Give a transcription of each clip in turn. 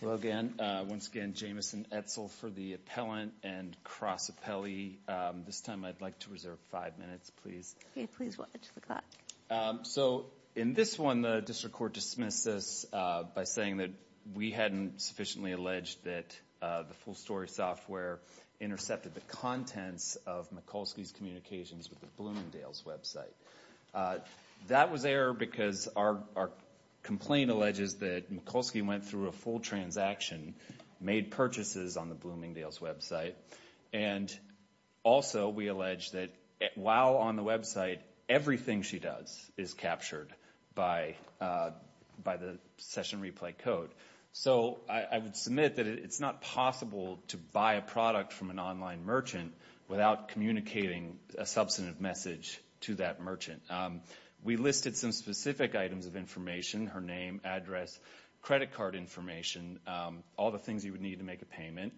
Hello again. Once again, Jamison Etzel for the appellant and Cross Appellee. This time I'd like to reserve five minutes, please. Okay, please watch the clock. So in this one, the district court dismissed this by saying that we hadn't sufficiently alleged that the full story software intercepted the contents of Mikulsky's communications with the Bloomingdale's website. That was error because our complaint alleges that Mikulsky went through a full transaction, made purchases on the Bloomingdale's website, and also we allege that while on the website, everything she does is captured by the session replay code. So I would submit that it's not possible to buy a product from an online merchant without communicating a substantive message to that merchant. We listed some specific items of information, her name, address, credit card information, all the things you would need to make a payment,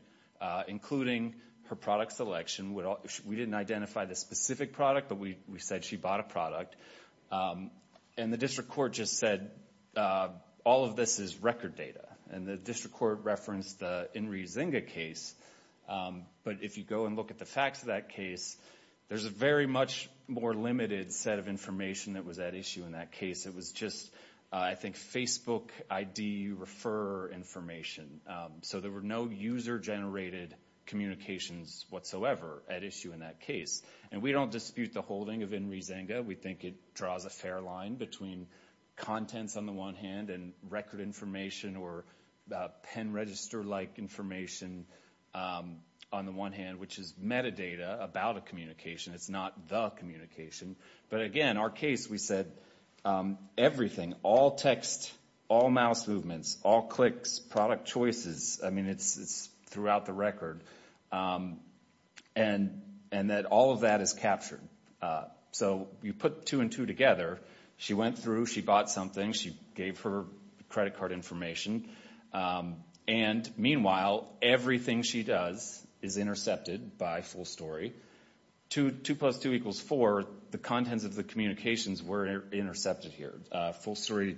including her product selection. We didn't identify the specific product, but we said she bought a product. And the district court just said all of this is record data. And the district court referenced the Inri Zenga case. But if you go and look at the facts of that case, there's a very much more limited set of information that was at issue in that case. It was just, I think, Facebook ID refer information. So there were no user-generated communications whatsoever at issue in that case. And we don't dispute the holding of Inri Zenga. We think it draws a fair line between contents on the one hand and record information or pen register-like information on the one hand, which is metadata about a communication. It's not the communication. But again, our case, we said everything, all text, all mouse movements, all clicks, product choices. I mean, it's throughout the record. And that all of that is captured. So you put two and two together. She went through. She bought something. She gave her credit card information. And meanwhile, everything she does is intercepted by Full Story. Two plus two equals four, the contents of the communications were intercepted here. Full Story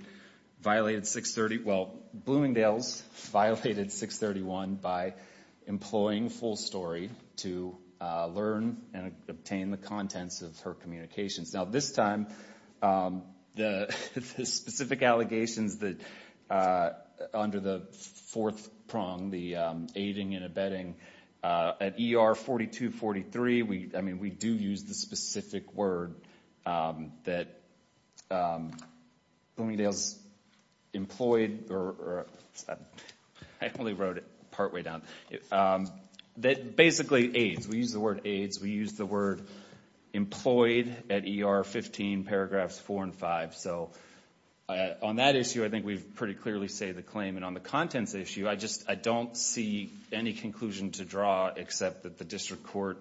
violated 630. Well, Bloomingdale's violated 631 by employing Full Story to learn and obtain the contents of her communications. Now, this time, the specific allegations under the fourth prong, the aiding and abetting, at ER 4243, I mean, we do use the specific word that Bloomingdale's employed, or I only wrote it partway down, that basically aids. We use the word aids. We use the word employed at ER 15, paragraphs four and five. So on that issue, I think we've pretty clearly stated the claim. And on the contents issue, I just, I don't see any conclusion to draw except that the district court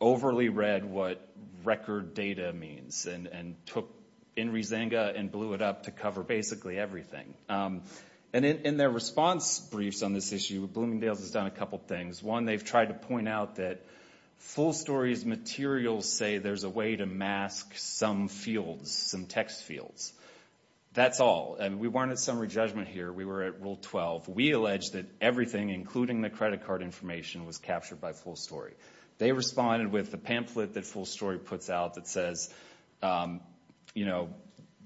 overly read what record data means and took Inri Zenga and blew it up to cover basically everything. And in their response briefs on this issue, Bloomingdale's has done a couple things. One, they've tried to point out that Full Story's materials say there's a way to mask some fields, some text and everything, including the credit card information, was captured by Full Story. They responded with the pamphlet that Full Story puts out that says, you know,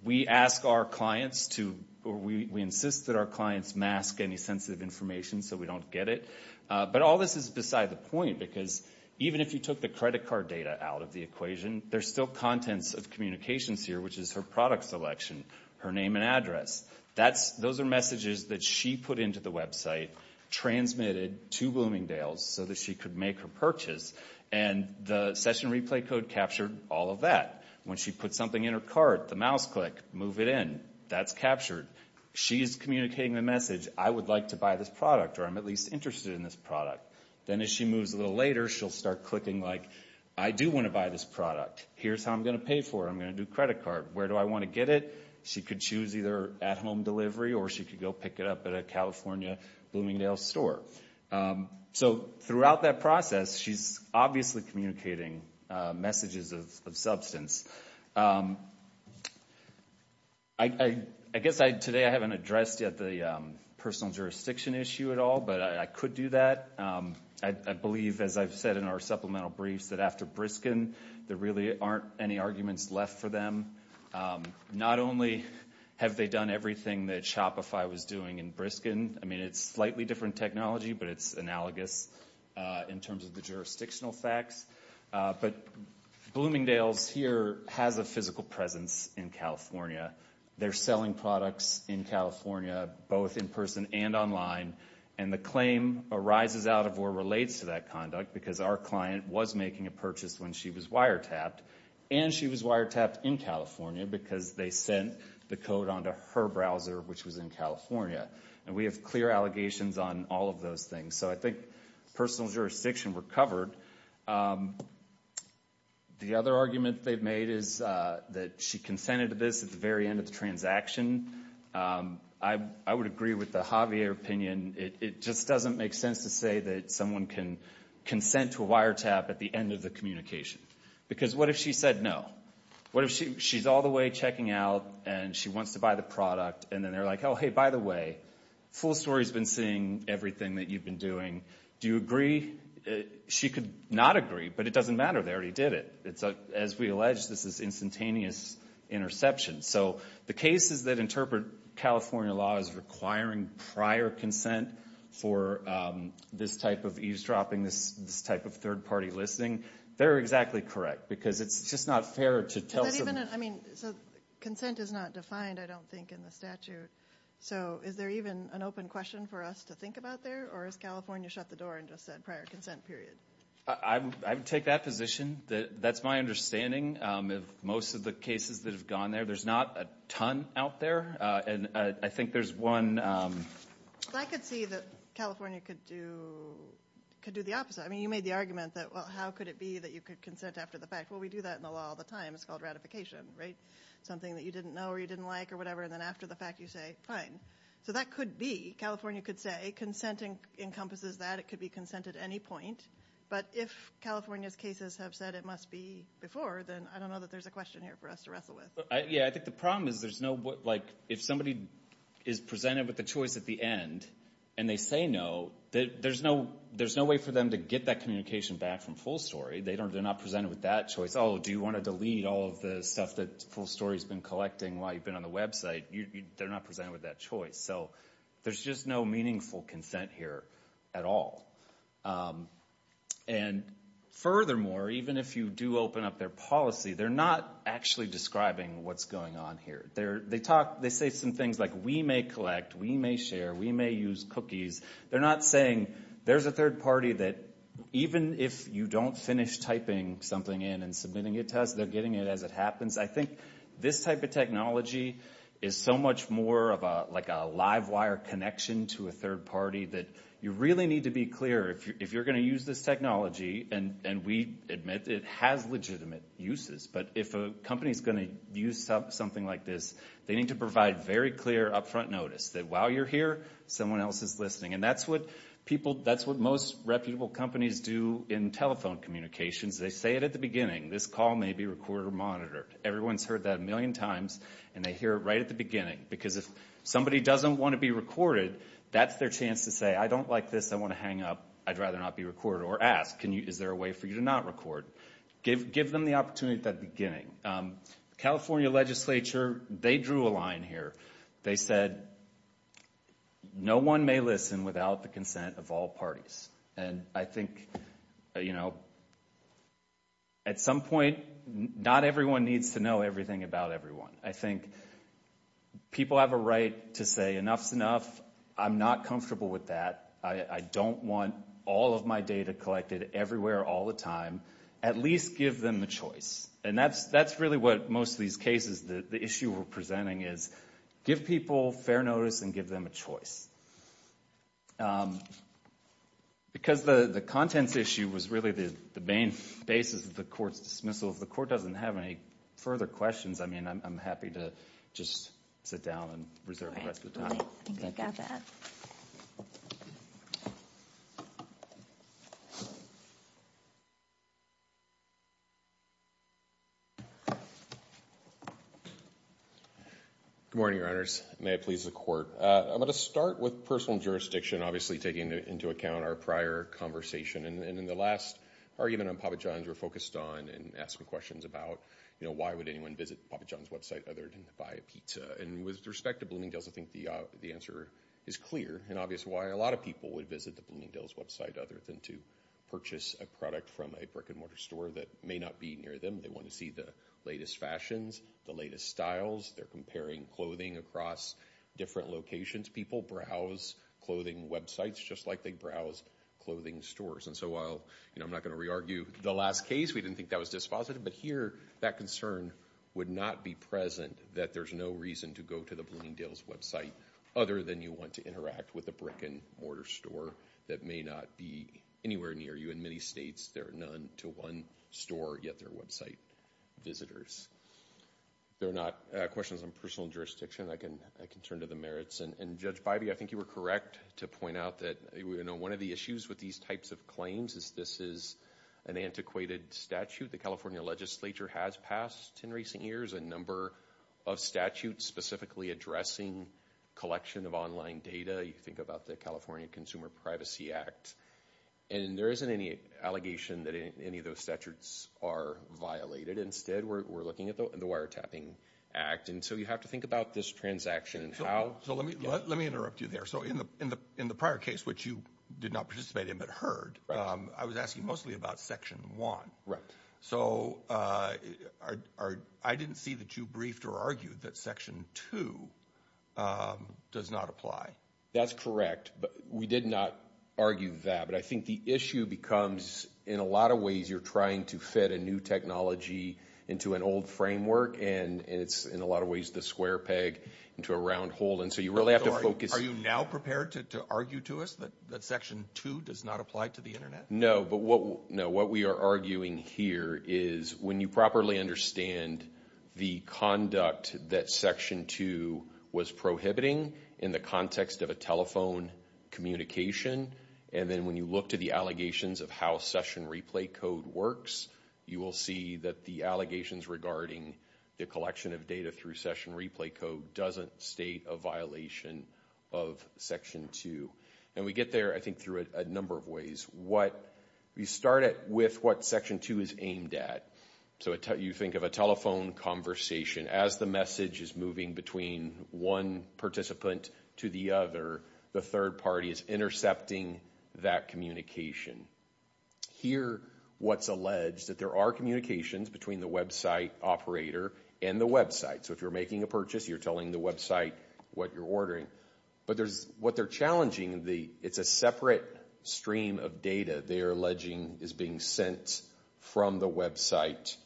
we ask our clients to, or we insist that our clients mask any sensitive information so we don't get it. But all this is beside the point because even if you took the credit card data out of the equation, there's still contents of communications here, which is her product selection, her name and address. That's, those are messages that she put into the website, transmitted to Bloomingdale's so that she could make her purchase. And the session replay code captured all of that. When she put something in her cart, the mouse click, move it in, that's captured. She's communicating the message, I would like to buy this product or I'm at least interested in this product. Then as she moves a little later, she'll start clicking like, I do want to buy this product. Here's how I'm going to pay for it. I'm going to do credit card. Where do I want to get it? She could choose either at home delivery or she could go pick it up at a California Bloomingdale's store. So throughout that process, she's obviously communicating messages of substance. I guess today I haven't addressed yet the personal jurisdiction issue at all, but I could do that. I believe, as I've said in our supplemental briefs, that after Briskin, there really aren't any arguments left for them. Not only have they done everything that Shopify was doing in Briskin. I mean, it's slightly different technology, but it's analogous in terms of the jurisdictional facts. But Bloomingdale's here has a physical presence in California. They're selling products in California, both in person and online. And the claim arises out of or relates to that conduct because our client was making a purchase when she was wiretapped. And she was wiretapped in California because they sent the code onto her browser, which was in California. And we have clear allegations on all of those things. So I think personal jurisdiction recovered. The other argument they've made is that she consented to this at the very end of the transaction. I would agree with the Javier opinion. It just doesn't make sense to say that someone can consent to a wiretap at the end of the communication. Because what if she said no? What if she's all the way checking out and she wants to buy the product, and then they're like, oh, hey, by the way, Full Story's been seeing everything that you've been doing. Do you agree? She could not agree, but it doesn't matter. They already did it. As we allege, this is instantaneous interception. So the cases that interpret California law as requiring prior consent for this type of eavesdropping, this type of third-party listening, they're exactly correct. Because it's just not fair to tell someone. Consent is not defined, I don't think, in the statute. So is there even an open question for us to think about there? Or has California shut the door and just said prior consent, period? I would take that position. That's my understanding of most of the cases that have gone there. There's not a ton out there. And I think there's one... I could see that California could do the opposite. I mean, you made the argument that, well, how could it be that you could consent after the fact? Well, we do that in the law all the time. It's called ratification, right? Something that you didn't know or you didn't like or whatever, and then after the fact, you say, fine. So that could be. California could say consent encompasses that. It could be consent at any point. But if California's cases have said it must be before, then I don't know that there's a question here for us to wrestle with. Yeah, I think the problem is there's no... If somebody is presented with the choice at the end and they say no, there's no way for them to get that communication back from Full Story. They're not presented with that choice. Oh, do you want to delete all of the stuff that Full Story's been collecting while you've been on the website? They're not presented with that choice. So there's just no meaningful consent here at all. And furthermore, even if you do open up their policy, they're not actually describing what's going on here. They say some things like we may collect, we may share, we may use cookies. They're not saying there's a third party that even if you don't finish typing something in and submitting it to us, they're getting it as it happens. I think this type of technology is so much more of a live wire connection to a third party that you really need to be clear. If you're going to use this technology, and we admit it has legitimate uses, but if a company's going to use something like this, they need to provide very clear upfront notice that while you're here, someone else is listening. And that's what people... That's what most reputable companies do in telephone communications. They say it at the beginning. This call may be recorded or monitored. Everyone's heard that a million times and they hear it right at the beginning. Because if somebody doesn't want to be recorded, that's their chance to say, I don't like this. I want to hang up. I'd rather not be recorded. Or ask, is there a way for you to not record? Give them the opportunity at the beginning. The California legislature, they drew a line here. They said, no one may listen without the consent of all parties. And I think at some point, not everyone needs to know everything about everyone. I know enough. I'm not comfortable with that. I don't want all of my data collected everywhere all the time. At least give them a choice. And that's really what most of these cases, the issue we're presenting is, give people fair notice and give them a choice. Because the contents issue was really the main basis of the court's dismissal. If the court doesn't have any further questions, I mean, I'm happy to just sit down and reserve the rest of the time. I think I've got that. Good morning, Your Honors. May it please the Court. I'm going to start with personal jurisdiction, obviously taking into account our prior conversation. And in the last argument on Papa John's, we're focused on and asking questions about, you know, why would anyone visit Papa John's website other than to buy a pizza? And with respect to Bloomingdale's, I think the answer is clear and obvious why a lot of people would visit the Bloomingdale's website other than to purchase a product from a brick-and-mortar store that may not be near them. They want to see the latest fashions, the latest styles. They're comparing clothing across different locations. People browse clothing websites just like they browse clothing stores. And so while, you know, I'm not going to re-argue the last case. We didn't think that was dispositive. But here, that concern would not be present that there's no reason to go to the Bloomingdale's website other than you want to interact with a brick-and-mortar store that may not be anywhere near you. In many states, there are none to one store, yet they're website visitors. If there are not questions on personal jurisdiction, I can turn to the merits. And Judge Bybee, I think you were correct to point out that, you know, one of the issues with these types of claims is this is an antiquated statute. The California Legislature has passed in recent years a number of statutes specifically addressing collection of online data. You think about the California Consumer Privacy Act. And there isn't any allegation that any of those statutes are violated. Instead, we're looking at the Wiretapping Act. And so you have to think about this transaction and how... So let me interrupt you there. So in the prior case, which you did not participate in but I was asking mostly about Section 1. So I didn't see that you briefed or argued that Section 2 does not apply. That's correct. We did not argue that. But I think the issue becomes, in a lot of ways, you're trying to fit a new technology into an old framework. And it's, in a lot of ways, the square peg into a round hole. And so you really have to focus... Are you now prepared to argue to us that Section 2 does not apply to the Internet? No. But what we are arguing here is when you properly understand the conduct that Section 2 was prohibiting in the context of a telephone communication, and then when you look to the allegations of how session replay code works, you will see that the allegations regarding the collection of data through session replay code doesn't state a violation of Section 2. And we get there, I think, through a number of ways. You start with what Section 2 is aimed at. So you think of a telephone conversation. As the message is moving between one participant to the other, the third party is intercepting that communication. Here, what's alleged, that there are communications between the website operator and the website. So if you're making a purchase, you're telling the website what you're ordering. But what they're challenging, it's a separate stream of data they are alleging is being sent from the website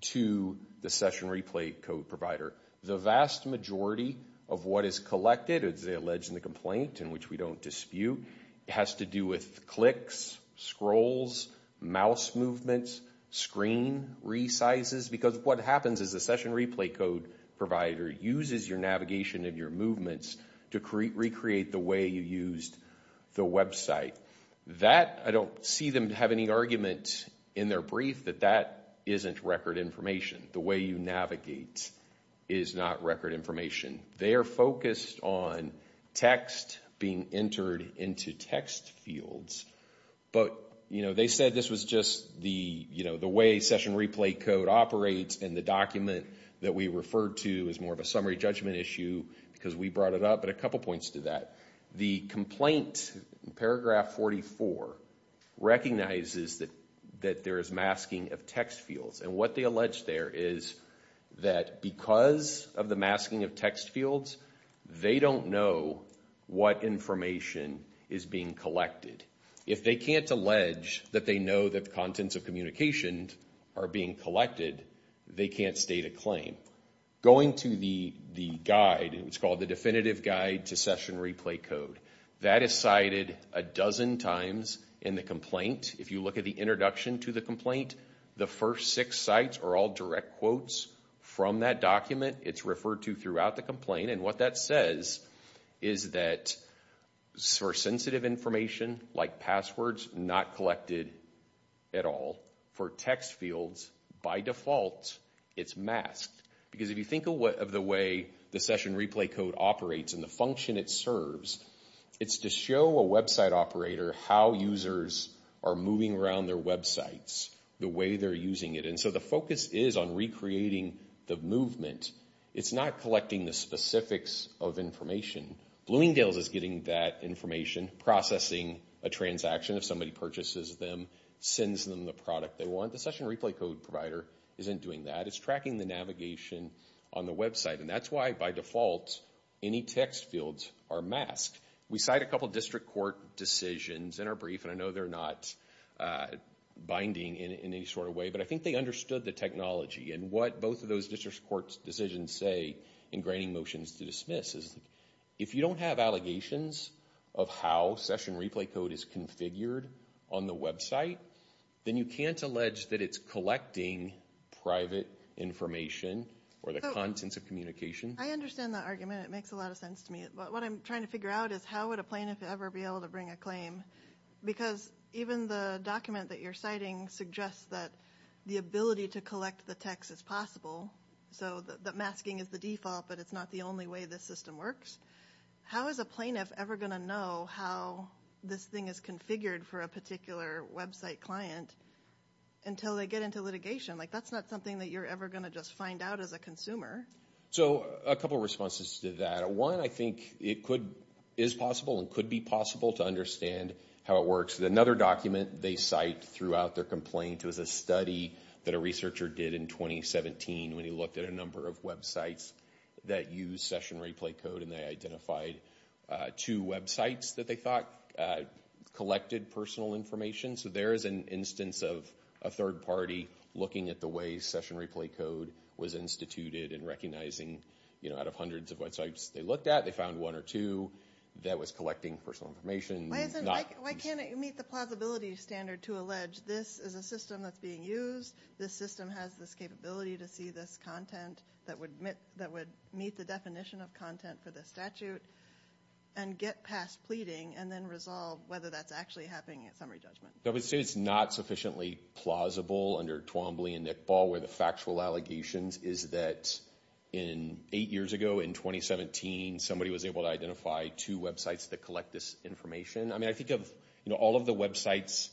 to the session replay code provider. The vast majority of what is collected, as they allege in the complaint, and which we don't dispute, has to do with clicks, scrolls, mouse movements, screen resizes. Because what happens is the session replay code provider uses your navigation and your movements to recreate the way you used the website. That, I don't see them have any argument in their brief that that isn't record information. The way you navigate is not record information. They are focused on text being entered into text fields. But, you know, they said this was just the, you know, the way session replay code operates and the document that we referred to is more of a summary judgment issue because we brought it up. But a couple points to that. The complaint, paragraph 44, recognizes that there is masking of text fields. And what they allege there is that because of the masking of text fields, they don't know what information is being collected. If they can't allege that they know that contents of communication are being collected, they can't state a claim. Going to the the guide, it's called the Definitive Guide to Session Replay Code, that is cited a dozen times in the complaint. If you look at the introduction to the complaint, the first six sites are all direct quotes from that document. It's referred to throughout the complaint. And what that says is that for sensitive information, like passwords, not collected at all. For text fields, by default, it's masked. Because if you think of the way the session replay code operates and the function it serves, it's to show a website operator how users are moving around their websites, the way they're using it. And so the focus is on recreating the movement. It's not collecting the specifics of information. Bloomingdale's is getting that information, processing a transaction if somebody purchases them, sends them the product they want. The session replay code provider isn't doing that. It's tracking the navigation on the website. And that's why, by default, any text fields are masked. We cite a couple district court decisions in our brief, and I know they're not binding in any sort of way, but I think they understood the technology. And what both of those district court decisions say in granting motions to dismiss is if you don't have allegations of how session replay code is configured on the website, then you can't allege that it's collecting private information or the contents of communication. I understand the argument. It makes a lot of sense to me. But what I'm trying to figure out is how would a plaintiff ever be able to bring a claim? Because even the document that you're citing suggests that the ability to collect the text is possible, so that masking is the default, but it's not the only way this system works. How is a plaintiff ever going to know how this thing is configured for a particular website client until they get into litigation? Like, that's not something that you're ever going to just find out as a consumer. So a couple of responses to that. One, I think it could, is possible and could be possible to understand how it works. Another document they cite throughout their complaint was a study that a researcher did in 2017 when he looked at a number of websites that use session replay code, and they identified two websites that they thought collected personal information. So there is an instance of a third party looking at the way session replay code was instituted and recognizing, you know, out of hundreds of websites they looked at, they found one or two that was collecting personal information. Why can't it meet the plausibility standard to allege this is a system that's being used, this system has this capability to see this content that would meet the definition of content for the statute and get past pleading and then resolve whether that's actually happening at summary judgment? I would say it's not sufficiently plausible under Twombly and Nickball where the factual allegations is that in eight years ago, in 2017, somebody was able to identify two websites that collect this information. I mean, I think of, you know, all of the websites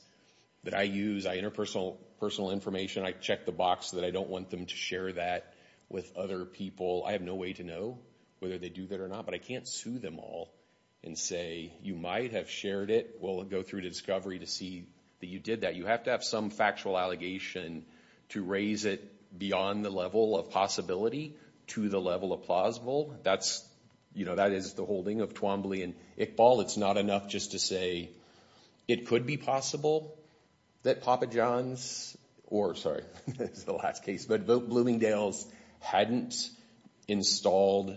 that I use, I enter personal information, I check the box that I don't want them to share that with other people. I have no way to know whether they do that or not, but I can't sue them all and say you might have shared it. We'll go through to discovery to see that you did that. You have to have some factual allegation to raise it beyond the level of possibility to the level of plausible. That's, you know, that is the holding of Twombly and Nickball. It's not enough just to say it could be possible that Papa John's or, sorry, this is the last case, but Bloomingdale's hadn't installed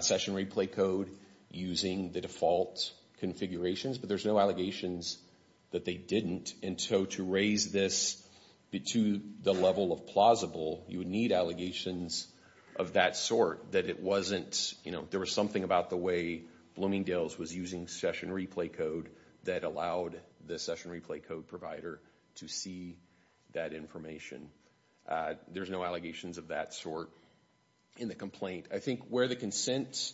session replay code using the default configurations, but there's no allegations that they didn't. And so to raise this to the level of plausible, you would need allegations of that sort that it wasn't, you know, there was something about the way Bloomingdale's was using session replay code that allowed the session replay code provider to see that information. There's no allegations of that sort in the complaint. I think where the consent,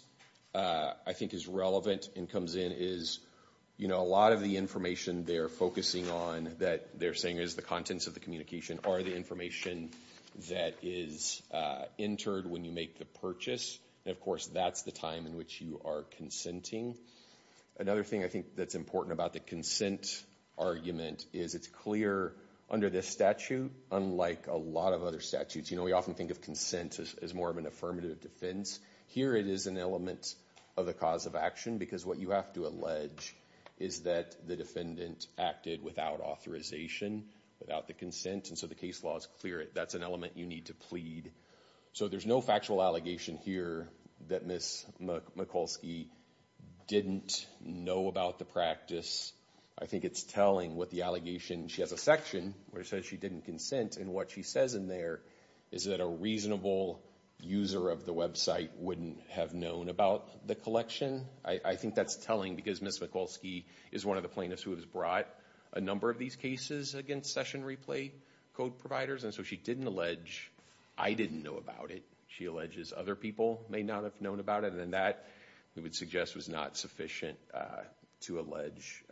I think, is relevant and comes in is, you know, a lot of the information they're focusing on that they're saying is the contents of the communication are the information that is entered when you make the purchase. And, of course, that's the time in which you are consenting. Another thing I think that's important about the consent argument is it's clear under this statute, unlike a lot of other statutes, you know, we often think of consent as more of an affirmative defense. Here it is an element of the cause of action because what you have to allege is that the defendant acted without authorization, without the consent, and so the case law is clear. That's an element you need to plead. So there's no factual allegation here that Ms. Mikulski didn't know about the practice. I think it's telling what the allegation, she has a section where it says she didn't consent, and what she says in there is that a reasonable user of the website wouldn't have known about the collection. I think that's telling because Ms. Mikulski is one of the plaintiffs who has brought a number of these cases against session replay code providers, and so she didn't allege I didn't know about it. She alleges other people may not have known about it, and that we would suggest was not sufficient to allege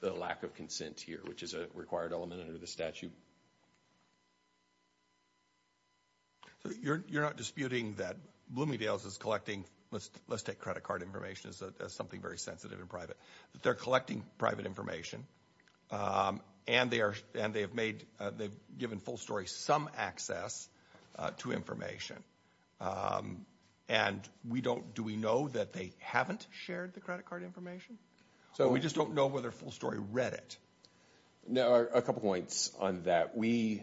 the lack of consent here, which is a required element under the statute. You're not disputing that Bloomingdale's is collecting, let's take credit card information as something very sensitive and private, that they're collecting private information, and they've given Full Story some access to information, and do we know that they haven't shared the credit card information? So we just don't know whether Full Story read it? No, a couple points on that. We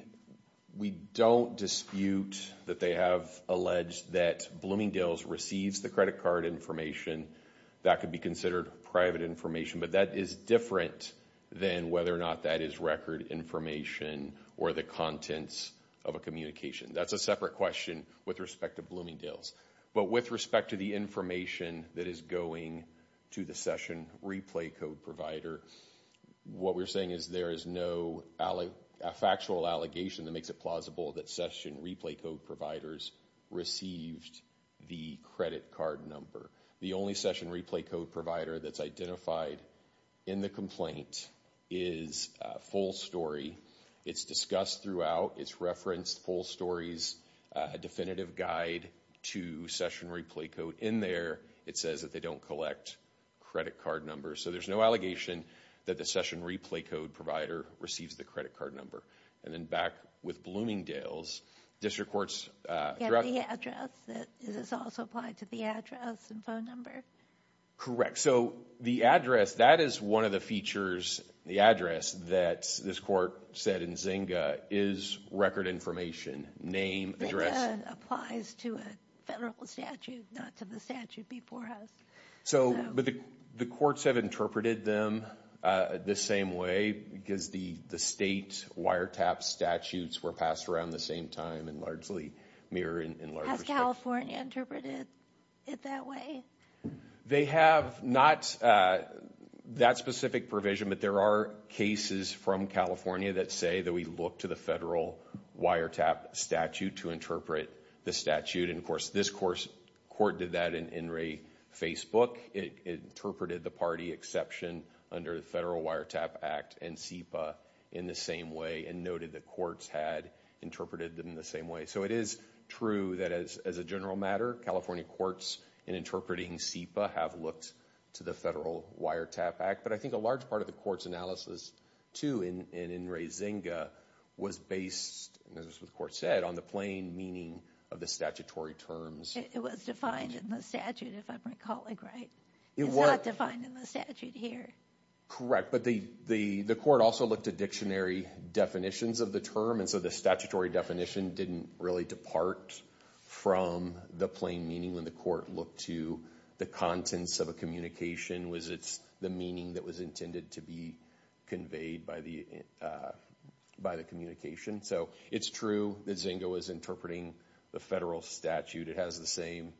don't dispute that they have alleged that Bloomingdale's receives the credit card information. That could be considered private information, but that is different than whether or not that is record information or the contents of a communication. That's a separate question with respect to Bloomingdale's, but with respect to the information that is going to the session replay code provider, what we're saying is there is no factual allegation that makes it plausible that session replay code providers received the credit card number. The only session replay code provider that's identified in the complaint is Full Story. It's discussed throughout, it's referenced, Full Story's definitive guide to session replay code. In there, it says that they don't collect credit card numbers, so there's no allegation that the session replay code provider receives the credit card number. And then back with Bloomingdale's, district courts- Yeah, but the address, does this also apply to the address and phone number? Correct. So the address, that is one of the features, the address that this court said in Zynga is record information, name, address. Zynga applies to a federal statute, not to the statute before us. But the courts have interpreted them the same way, because the state wiretap statutes were passed around the same time and largely mirror in large- Has California interpreted it that way? They have not that specific provision, but there are cases from California that say that we look to the federal wiretap statute to interpret the statute. And of course, this court did that in Facebook. It interpreted the party exception under the Federal Wiretap Act and SEPA in the same way and noted that courts had interpreted them the same way. So it is true that as a general matter, California courts in interpreting SEPA have looked to the Federal Wiretap Act. But I think a large part of the court's analysis, too, in Zynga was based, as the court said, on the plain meaning of the statutory terms. It was defined in the statute, if I'm recalling right. It's not defined in the statute here. Correct. But the court also looked at dictionary definitions of the term, and so the statutory definition didn't really depart from the plain meaning when the court looked to the contents of a communication. Was it the meaning that was intended to be conveyed by the communication? So it's true that Zynga was interpreting the federal statute. It has the same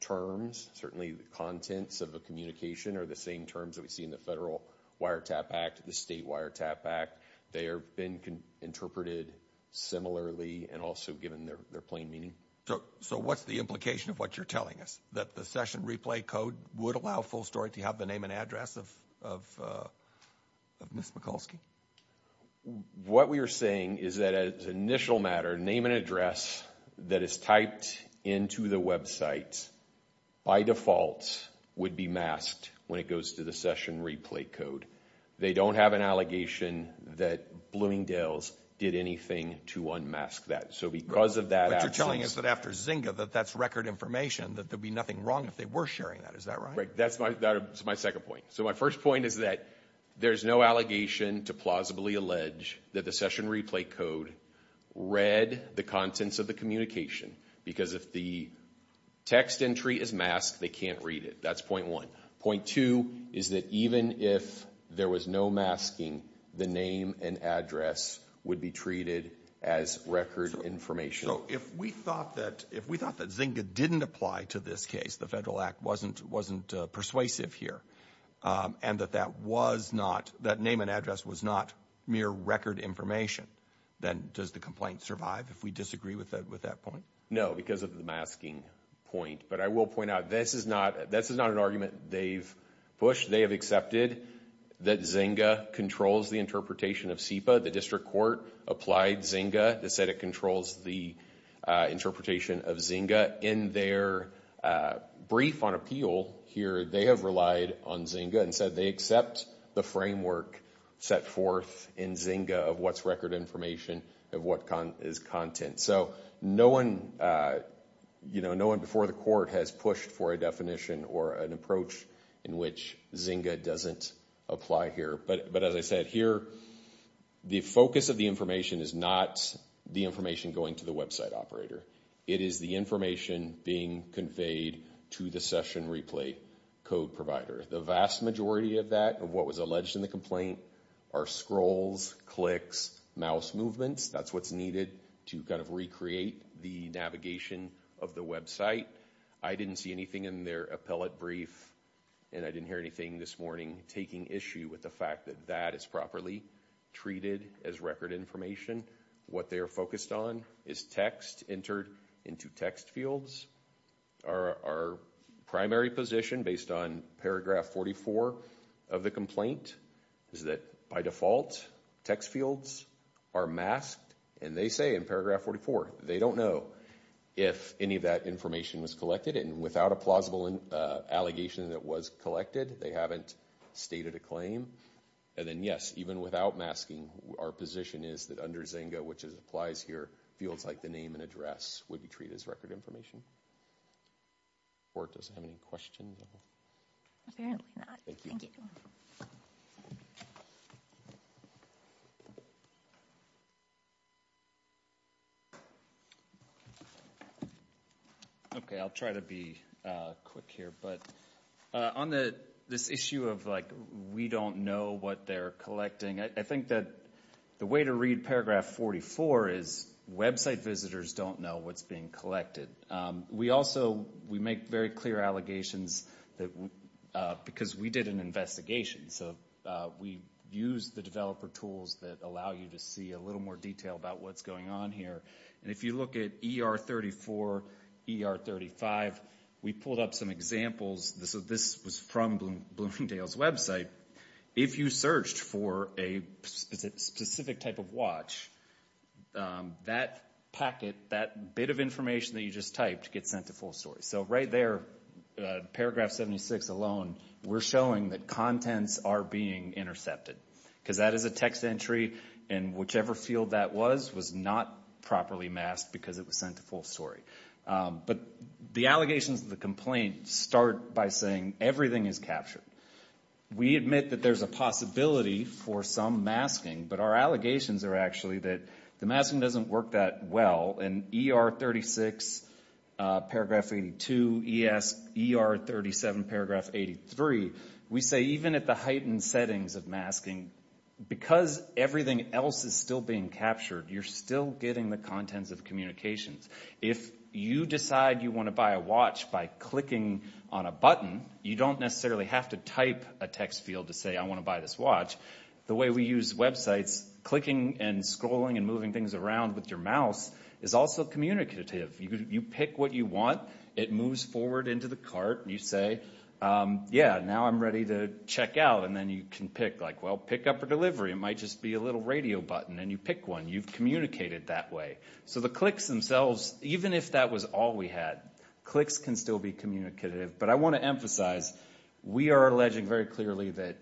terms. Certainly, the contents of a communication are the same terms that we see in the Federal Wiretap Act, the State Wiretap Act. They have been interpreted similarly and also given their plain meaning. So what's the implication of what you're telling us? That the session replay code would allow full story to have the name and address of Ms. Mikulski? What we are saying is that, as an initial matter, name and address that is typed into the website by default would be masked when it goes to the session replay code. They don't have an allegation that Bloomingdale's did anything to unmask that. So because of that... What you're telling us is that after Zynga, that that's record information, that there'd be nothing wrong if they were sharing that. Is that right? That's my second point. So my first point is that there's no allegation to plausibly allege that the session replay code read the contents of the communication. Because if the text entry is masked, they can't read it. That's point one. Point two is that even if there was no masking, the name and address would be treated as record information. If we thought that Zynga didn't apply to this case, the Federal Act wasn't persuasive here, and that that name and address was not mere record information, then does the complaint survive if we disagree with that point? No, because of the masking point. But I will point out this is not an argument they've pushed. They have accepted that Zynga controls the interpretation of SEPA. The district court applied Zynga. They said it controls the interpretation of Zynga. In their brief on appeal here, they have relied on Zynga and said they accept the framework set forth in Zynga of what's record information of what is content. So no one before the court has pushed for a definition or an approach in which Zynga doesn't apply here. But as I said here, the focus of the information is not the information going to the website operator. It is the information being conveyed to the session replay code provider. The vast majority of that, of what was alleged in the complaint, are scrolls, clicks, mouse movements. That's what's needed to kind of recreate the navigation of the website. I didn't see anything in their appellate brief, and I didn't hear anything this morning, taking issue with the fact that that is properly treated as record information. What they are focused on is text entered into text fields. Our primary position, based on paragraph 44 of the complaint, is that by default, text fields are masked. And they say in paragraph 44, they don't know if any of that information was collected. And without a plausible allegation that it was collected, they haven't stated a claim. And then, yes, even without masking, our position is that under Zynga, which applies here, fields like the name and address would be treated as record information. Does the court have any questions? Apparently not. Okay, I'll try to be quick here. But on this issue of, like, we don't know what they're collecting, I think that the way to read paragraph 44 is website visitors don't know what's being collected. We also, we make very clear allegations that, because we did an investigation, so we used the developer tools that allow you to see a little more detail about what's going on here. And if you look at ER 34, ER 35, we pulled up some examples. This was from Bloomingdale's If you searched for a specific type of watch, that packet, that bit of information that you just typed gets sent to full story. So right there, paragraph 76 alone, we're showing that contents are being intercepted. Because that is a text entry, and whichever field that was, was not properly masked because it was sent to full story. But the allegations of the complaint start by everything is captured. We admit that there's a possibility for some masking, but our allegations are actually that the masking doesn't work that well. And ER 36, paragraph 82, ER 37, paragraph 83, we say even at the heightened settings of masking, because everything else is still being captured, you're still getting the contents of communications. If you decide you want to buy a watch by clicking on a button, you don't necessarily have to type a text field to say, I want to buy this watch. The way we use websites, clicking and scrolling and moving things around with your mouse is also communicative. You pick what you want. It moves forward into the cart. You say, yeah, now I'm ready to check out. And then you can pick, like, well, pick up a delivery. It might just be a little radio button. And you pick one. You've communicated that way. So the clicks can still be communicative. But I want to emphasize, we are alleging very clearly that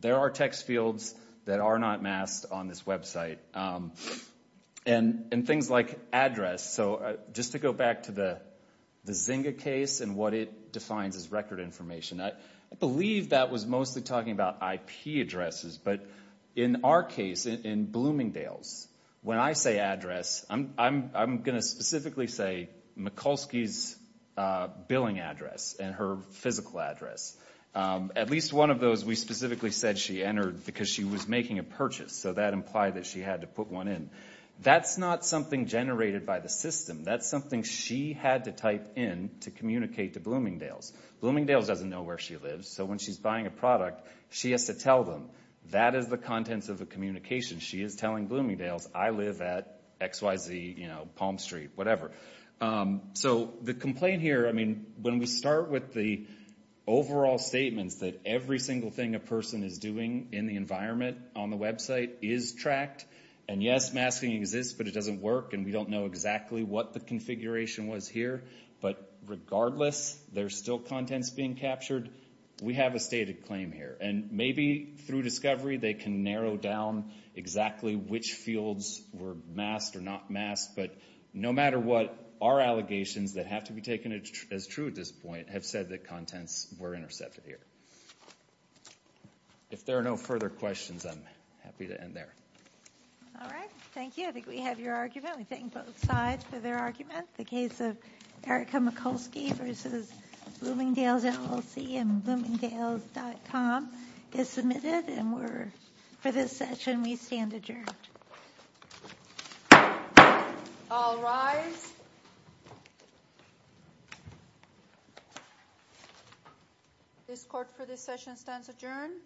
there are text fields that are not masked on this website. And things like address. So just to go back to the Zynga case and what it defines as record information, I believe that was mostly talking about IP addresses. But in our case, in Bloomingdale's, when I say address, I'm going to say Mikulski's billing address and her physical address. At least one of those we specifically said she entered because she was making a purchase. So that implied that she had to put one in. That's not something generated by the system. That's something she had to type in to communicate to Bloomingdale's. Bloomingdale's doesn't know where she lives. So when she's buying a product, she has to tell them. That is the contents of the communication. She is telling Bloomingdale's, I live at X, Y, Z, Palm Street, whatever. So the complaint here, when we start with the overall statements that every single thing a person is doing in the environment on the website is tracked. And yes, masking exists, but it doesn't work. And we don't know exactly what the configuration was here. But regardless, there's still contents being captured. We have a stated claim here. And maybe through discovery, they can narrow down exactly which fields were masked or not masked. But no matter what, our allegations that have to be taken as true at this point have said that contents were intercepted here. If there are no further questions, I'm happy to end there. All right. Thank you. I think we have your argument. We thank both sides for their comments. All rise. This Court for this session stands adjourned.